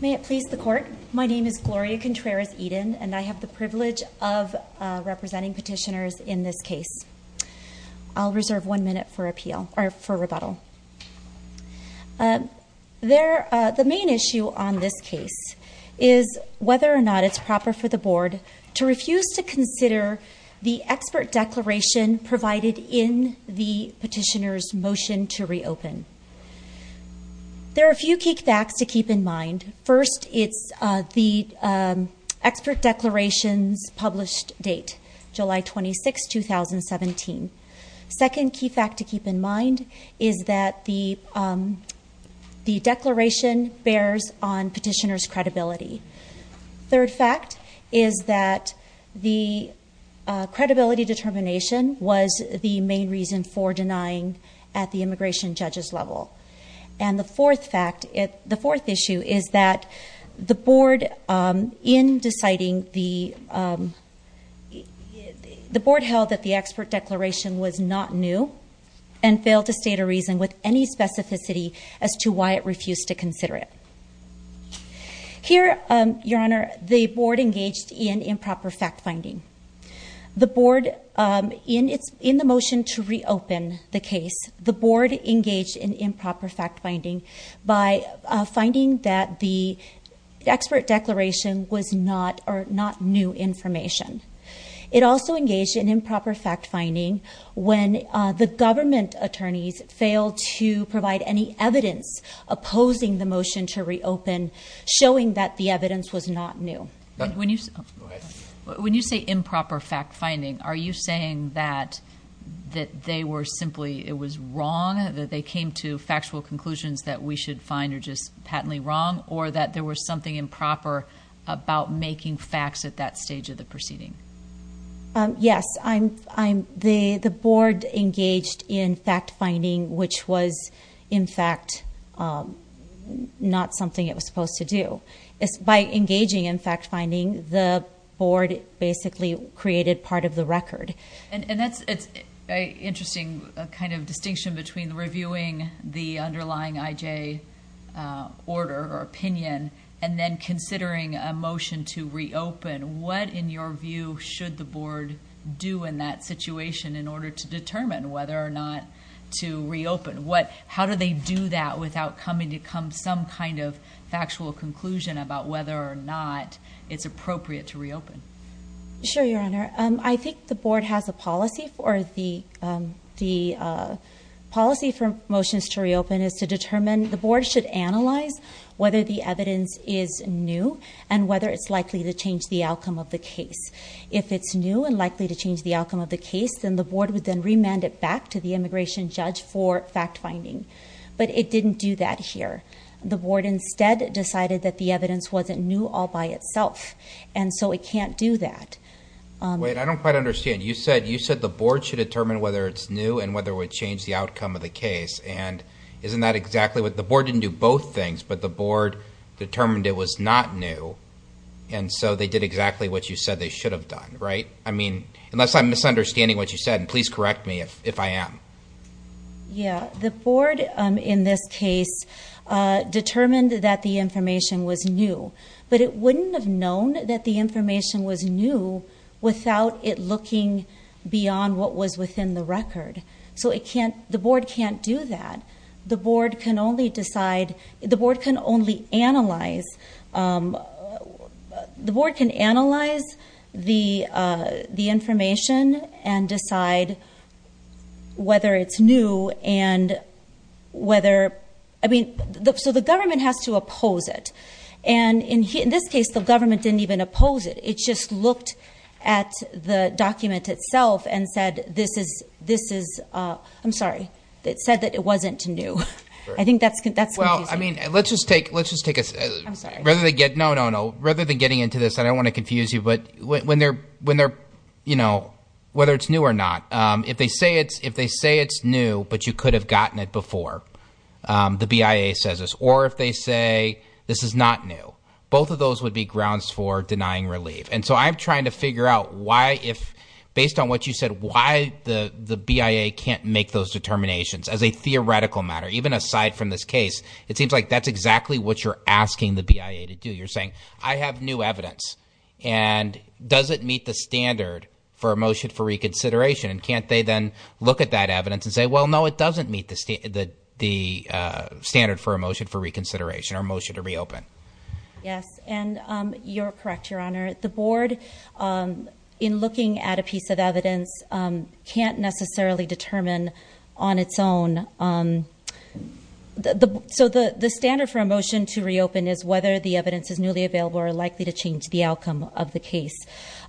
May it please the Court, my name is Gloria Contreras-Eden, and I have the privilege of representing petitioners in this case. I'll reserve one minute for appeal, or for rebuttal. The main issue on this case is whether or not it's proper for the Board to refuse to consider the expert declaration provided in the petitioner's motion to reopen. There are a few key facts to keep in mind. First, it's the expert declaration's published date, July 26, 2017. Second key fact to keep in mind is that the declaration bears on petitioners' credibility. Third fact is that the credibility determination was the main reason for denying at the immigration judge's level. And the fourth issue is that the Board held that the expert declaration was not new and failed to state a reason with any specificity as to why it refused to consider it. Here, Your Honor, the Board engaged in improper fact-finding. In the motion to reopen the case, the Board engaged in improper fact-finding by finding that the expert declaration was not new information. It also engaged in improper fact-finding when the government attorneys failed to provide any evidence opposing the motion to reopen, showing that the evidence was not new. When you say improper fact-finding, are you saying that it was wrong, that they came to factual conclusions that we should find are just patently wrong, or that there was something improper about making facts at that stage of the proceeding? Yes. The Board engaged in fact-finding, which was, in fact, not something it was supposed to do. By engaging in fact-finding, the Board basically created part of the record. And that's an interesting kind of distinction between reviewing the underlying IJ order or opinion and then considering a motion to reopen. What, in your view, should the Board do in that situation in order to determine whether or not to reopen? How do they do that without coming to some kind of factual conclusion about whether or not it's appropriate to reopen? Sure, Your Honor. I think the Board has a policy for the motions to reopen is to determine, the Board should analyze whether the evidence is new and whether it's likely to change the outcome of the case. If it's new and likely to change the outcome of the case, then the Board would then remand it back to the immigration judge for fact-finding. But it didn't do that here. The Board instead decided that the evidence wasn't new all by itself. And so it can't do that. Wait, I don't quite understand. You said the Board should determine whether it's new and whether it would change the outcome of the case. And isn't that exactly what – the Board didn't do both things, but the Board determined it was not new. And so they did exactly what you said they should have done, right? I mean, unless I'm misunderstanding what you said, please correct me if I am. Yeah, the Board in this case determined that the information was new. But it wouldn't have known that the information was new without it looking beyond what was within the record. So it can't – the Board can't do that. The Board can only decide – the Board can only analyze – the Board can analyze the information and decide whether it's new and whether – I mean, so the government has to oppose it. And in this case, the government didn't even oppose it. It just looked at the document itself and said this is – I'm sorry. It said that it wasn't new. I think that's confusing. Well, I mean, let's just take a – I'm sorry. No, no, no. Rather than getting into this, I don't want to confuse you, but when they're – whether it's new or not, if they say it's new but you could have gotten it before, the BIA says this. Both of those would be grounds for denying relief. And so I'm trying to figure out why if – based on what you said, why the BIA can't make those determinations as a theoretical matter, even aside from this case. It seems like that's exactly what you're asking the BIA to do. You're saying I have new evidence, and does it meet the standard for a motion for reconsideration? And can't they then look at that evidence and say, well, no, it doesn't meet the standard for a motion for reconsideration or a motion to reopen? Yes, and you're correct, Your Honor. The board, in looking at a piece of evidence, can't necessarily determine on its own. So the standard for a motion to reopen is whether the evidence is newly available or likely to change the outcome of the case.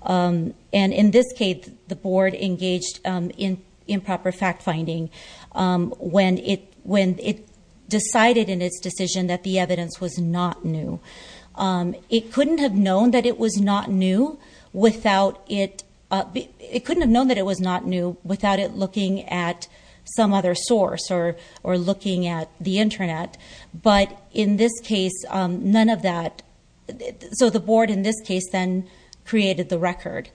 And in this case, the board engaged in improper fact-finding when it decided in its decision that the evidence was not new. It couldn't have known that it was not new without it looking at some other source or looking at the Internet. But in this case, none of that – so the board in this case then created the record.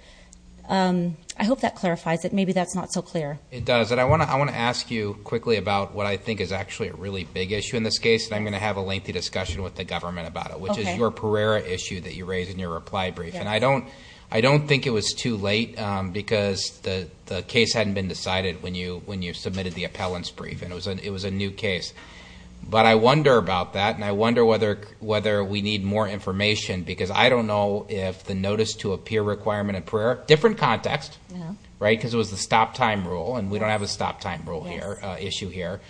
I hope that clarifies it. Maybe that's not so clear. It doesn't. I want to ask you quickly about what I think is actually a really big issue in this case, and I'm going to have a lengthy discussion with the government about it, which is your Pereira issue that you raised in your reply brief. And I don't think it was too late because the case hadn't been decided when you submitted the appellant's brief, and it was a new case. But I wonder about that, and I wonder whether we need more information because I don't know if the notice to appear requirement in Pereira – different context, right, because it was the stop-time rule, and we don't have a stop-time rule issue here.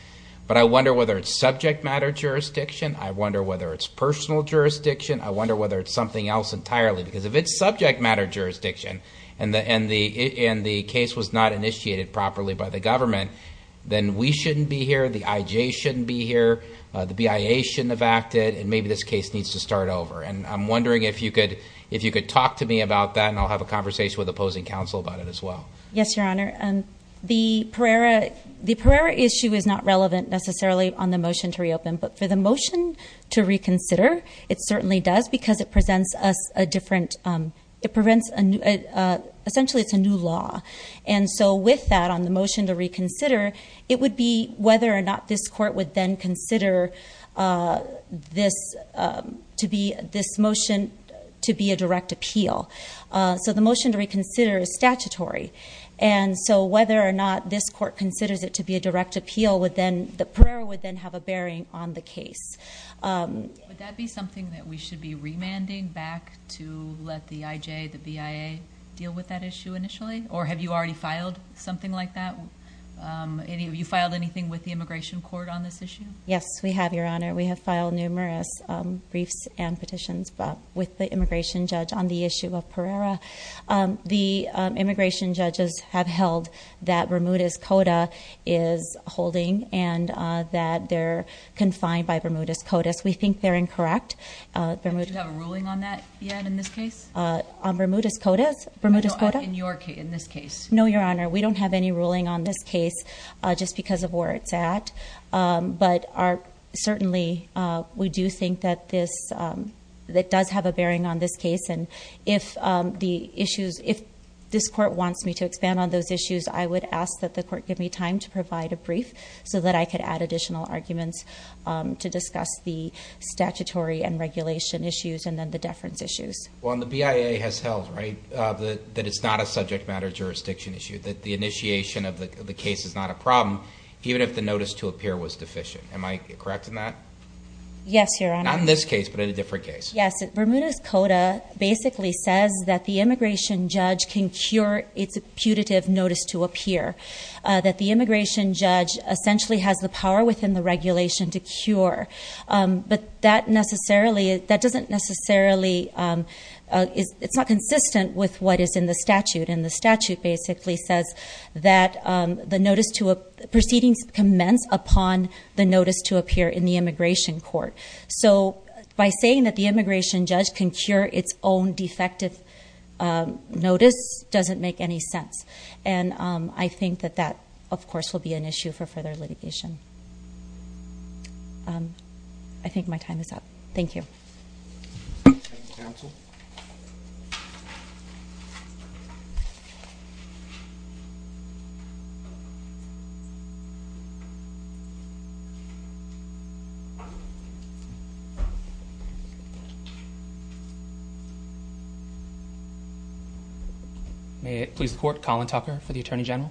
But I wonder whether it's subject-matter jurisdiction. I wonder whether it's personal jurisdiction. I wonder whether it's something else entirely because if it's subject-matter jurisdiction and the case was not initiated properly by the government, then we shouldn't be here, the IJ shouldn't be here, the BIA shouldn't have acted, and maybe this case needs to start over. And I'm wondering if you could talk to me about that, and I'll have a conversation with opposing counsel about it as well. Yes, Your Honor. The Pereira issue is not relevant necessarily on the motion to reopen, but for the motion to reconsider, it certainly does because it presents us a different – it presents – essentially it's a new law. And so with that, on the motion to reconsider, it would be whether or not this court would then consider this motion to be a direct appeal. So the motion to reconsider is statutory, and so whether or not this court considers it to be a direct appeal would then – the Pereira would then have a bearing on the case. Would that be something that we should be remanding back to let the IJ, the BIA, deal with that issue initially? Or have you already filed something like that? Have you filed anything with the Immigration Court on this issue? Yes, we have, Your Honor. We have filed numerous briefs and petitions with the immigration judge on the issue of Pereira. The immigration judges have held that Bermuda's Coda is holding and that they're confined by Bermuda's Codas. We think they're incorrect. Don't you have a ruling on that yet in this case? On Bermuda's Codas? No, in this case. No, Your Honor. We don't have any ruling on this case just because of where it's at. But certainly, we do think that this does have a bearing on this case. And if this court wants me to expand on those issues, I would ask that the court give me time to provide a brief so that I could add additional arguments to discuss the statutory and regulation issues and then the deference issues. Well, and the BIA has held, right, that it's not a subject matter jurisdiction issue, that the initiation of the case is not a problem, even if the notice to appear was deficient. Am I correct in that? Yes, Your Honor. Not in this case, but in a different case. Yes, Bermuda's Coda basically says that the immigration judge can cure its putative notice to appear, that the immigration judge essentially has the power within the regulation to cure. But that doesn't necessarily, it's not consistent with what is in the statute. And the statute basically says that the notice to, proceedings commence upon the notice to appear in the immigration court. So by saying that the immigration judge can cure its own defective notice doesn't make any sense. And I think that that, of course, will be an issue for further litigation. I think my time is up. Thank you. Thank you, counsel. May it please the Court, Colin Tucker for the Attorney General.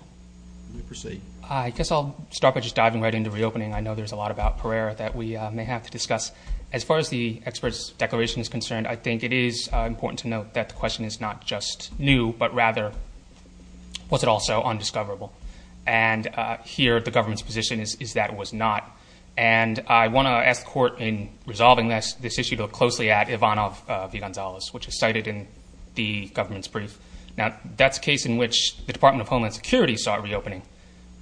You may proceed. I guess I'll start by just diving right into reopening. I know there's a lot about Pereira that we may have to discuss. As far as the expert's declaration is concerned, I think it is important to note that the question is not just new, but rather was it also undiscoverable. And here the government's position is that it was not. And I want to ask the Court in resolving this issue to look closely at Ivanov v. Gonzales, which is cited in the government's brief. Now, that's a case in which the Department of Homeland Security saw a reopening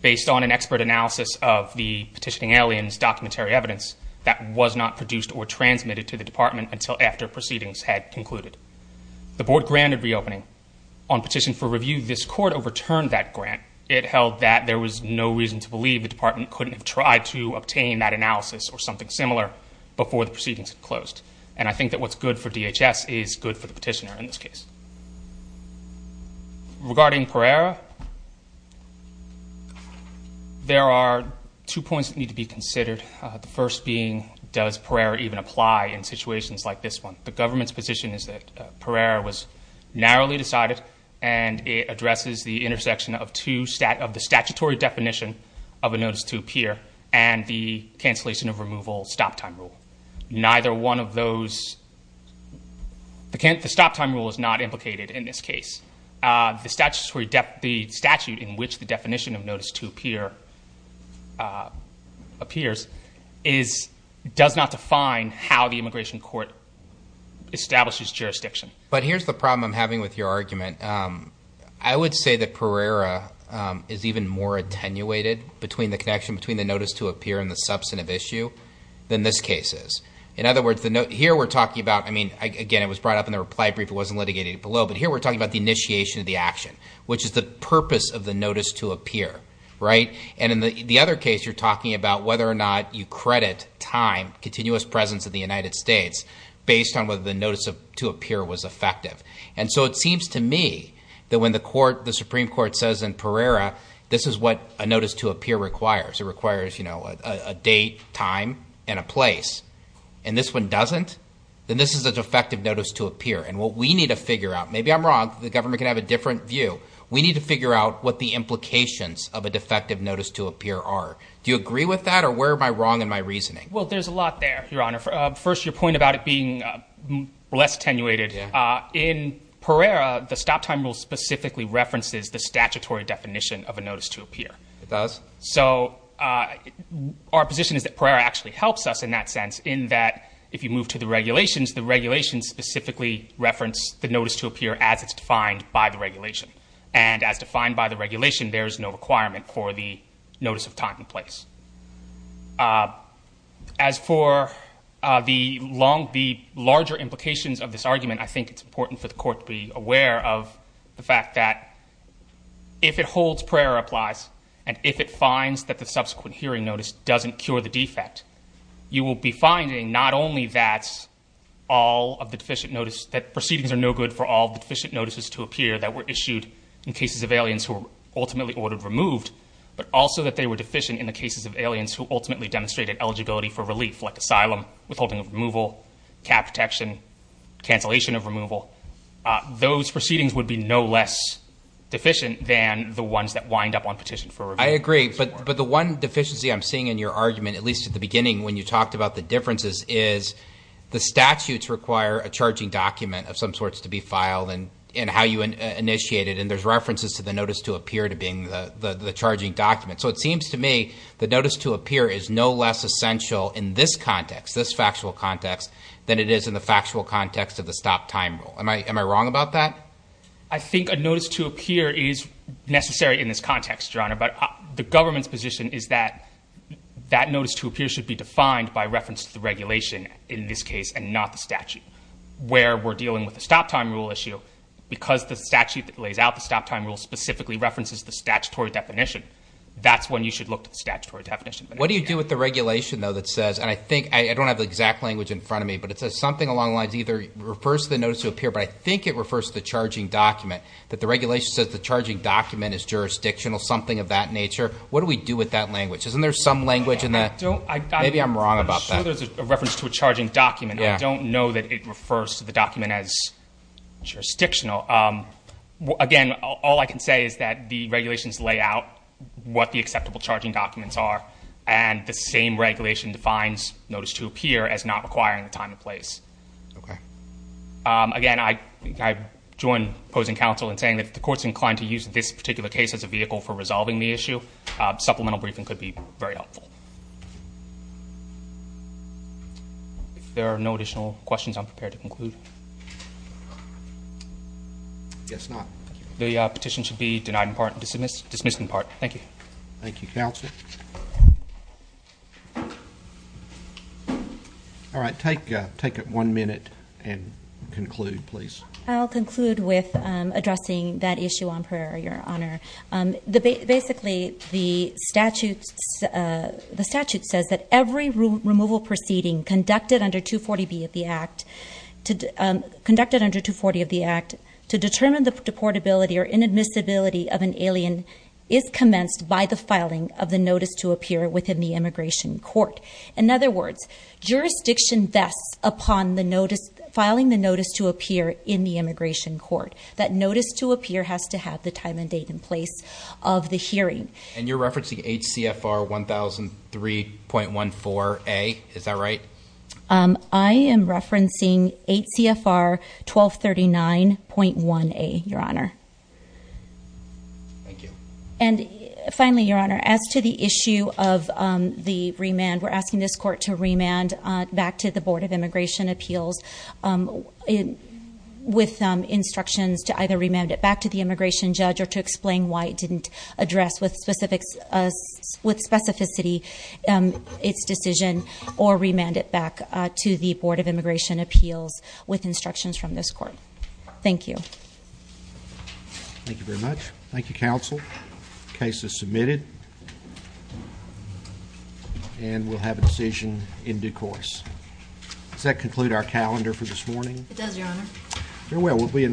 based on an expert analysis of the petitioning aliens documentary evidence that was not produced or transmitted to the Department until after proceedings had concluded. The Board granted reopening. On petition for review, this Court overturned that grant. It held that there was no reason to believe the Department couldn't have tried to obtain that analysis or something similar before the proceedings had closed. And I think that what's good for DHS is good for the petitioner in this case. The first being, does Pereira even apply in situations like this one? The government's position is that Pereira was narrowly decided, and it addresses the intersection of the statutory definition of a notice to appear and the cancellation of removal stop time rule. Neither one of those, the stop time rule is not implicated in this case. The statute in which the definition of notice to appear appears does not define how the immigration court establishes jurisdiction. But here's the problem I'm having with your argument. I would say that Pereira is even more attenuated between the connection between the notice to appear and the substantive issue than this case is. In other words, here we're talking about, I mean, again, it was brought up in the reply brief. It wasn't litigated below, but here we're talking about the initiation of the action, which is the purpose of the notice to appear, right? And in the other case, you're talking about whether or not you credit time, continuous presence in the United States, based on whether the notice to appear was effective. And so it seems to me that when the Supreme Court says in Pereira, this is what a notice to appear requires. It requires a date, time, and a place. And this one doesn't? Then this is an effective notice to appear. And what we need to figure out, maybe I'm wrong. The government can have a different view. We need to figure out what the implications of a defective notice to appear are. Do you agree with that, or where am I wrong in my reasoning? Well, there's a lot there, Your Honor. First, your point about it being less attenuated. In Pereira, the stop time rule specifically references the statutory definition of a notice to appear. It does? So our position is that Pereira actually helps us in that sense in that if you move to the regulations, the regulations specifically reference the notice to appear as it's defined by the regulation. And as defined by the regulation, there is no requirement for the notice of time and place. As for the larger implications of this argument, I think it's important for the Court to be aware of the fact that if it holds Pereira applies and if it finds that the subsequent hearing notice doesn't cure the defect, you will be finding not only that all of the deficient notice, that proceedings are no good for all the deficient notices to appear that were issued in cases of aliens who were ultimately ordered removed, but also that they were deficient in the cases of aliens who ultimately demonstrated eligibility for relief, like asylum, withholding of removal, cap protection, cancellation of removal. Those proceedings would be no less deficient than the ones that wind up on petition for review. I agree. But the one deficiency I'm seeing in your argument, at least at the beginning when you talked about the differences, is the statutes require a charging document of some sorts to be filed and how you initiate it. And there's references to the notice to appear to being the charging document. So it seems to me the notice to appear is no less essential in this context, this factual context, than it is in the factual context of the stop time rule. Am I wrong about that? I don't know, but the government's position is that that notice to appear should be defined by reference to the regulation, in this case, and not the statute. Where we're dealing with the stop time rule issue, because the statute that lays out the stop time rule specifically references the statutory definition, that's when you should look to the statutory definition. What do you do with the regulation, though, that says, and I think, I don't have the exact language in front of me, but it says something along the lines of either it refers to the notice to appear, but I think it refers to the charging document, that the regulation says the charging document is jurisdictional, something of that nature. What do we do with that language? Isn't there some language in that? Maybe I'm wrong about that. I'm sure there's a reference to a charging document. I don't know that it refers to the document as jurisdictional. Again, all I can say is that the regulations lay out what the acceptable charging documents are, and the same regulation defines notice to appear as not requiring a time and place. Okay. Again, I join opposing counsel in saying that if the court's inclined to use this particular case as a vehicle for resolving the issue, supplemental briefing could be very helpful. If there are no additional questions, I'm prepared to conclude. I guess not. The petition should be denied in part and dismissed in part. Thank you. Thank you, counsel. All right. Take one minute and conclude, please. I'll conclude with addressing that issue on prayer, Your Honor. Basically, the statute says that every removal proceeding conducted under 240B of the Act, to determine the deportability or inadmissibility of an alien, is commenced by the filing of the notice to appear within the immigration court. In other words, jurisdiction vests upon filing the notice to appear in the immigration court. That notice to appear has to have the time and date and place of the hearing. And you're referencing HCFR 1003.14A. Is that right? I am referencing HCFR 1239.1A, Your Honor. Thank you. And finally, Your Honor, as to the issue of the remand, we're asking this court to remand back to the Board of Immigration Appeals with instructions to either remand it back to the immigration judge or to explain why it didn't address with specificity its decision or remand it back to the Board of Immigration Appeals with instructions from this court. Thank you. Thank you very much. Thank you, counsel. The case is submitted. And we'll have a decision in due course. Does that conclude our calendar for this morning? It does, Your Honor. Very well.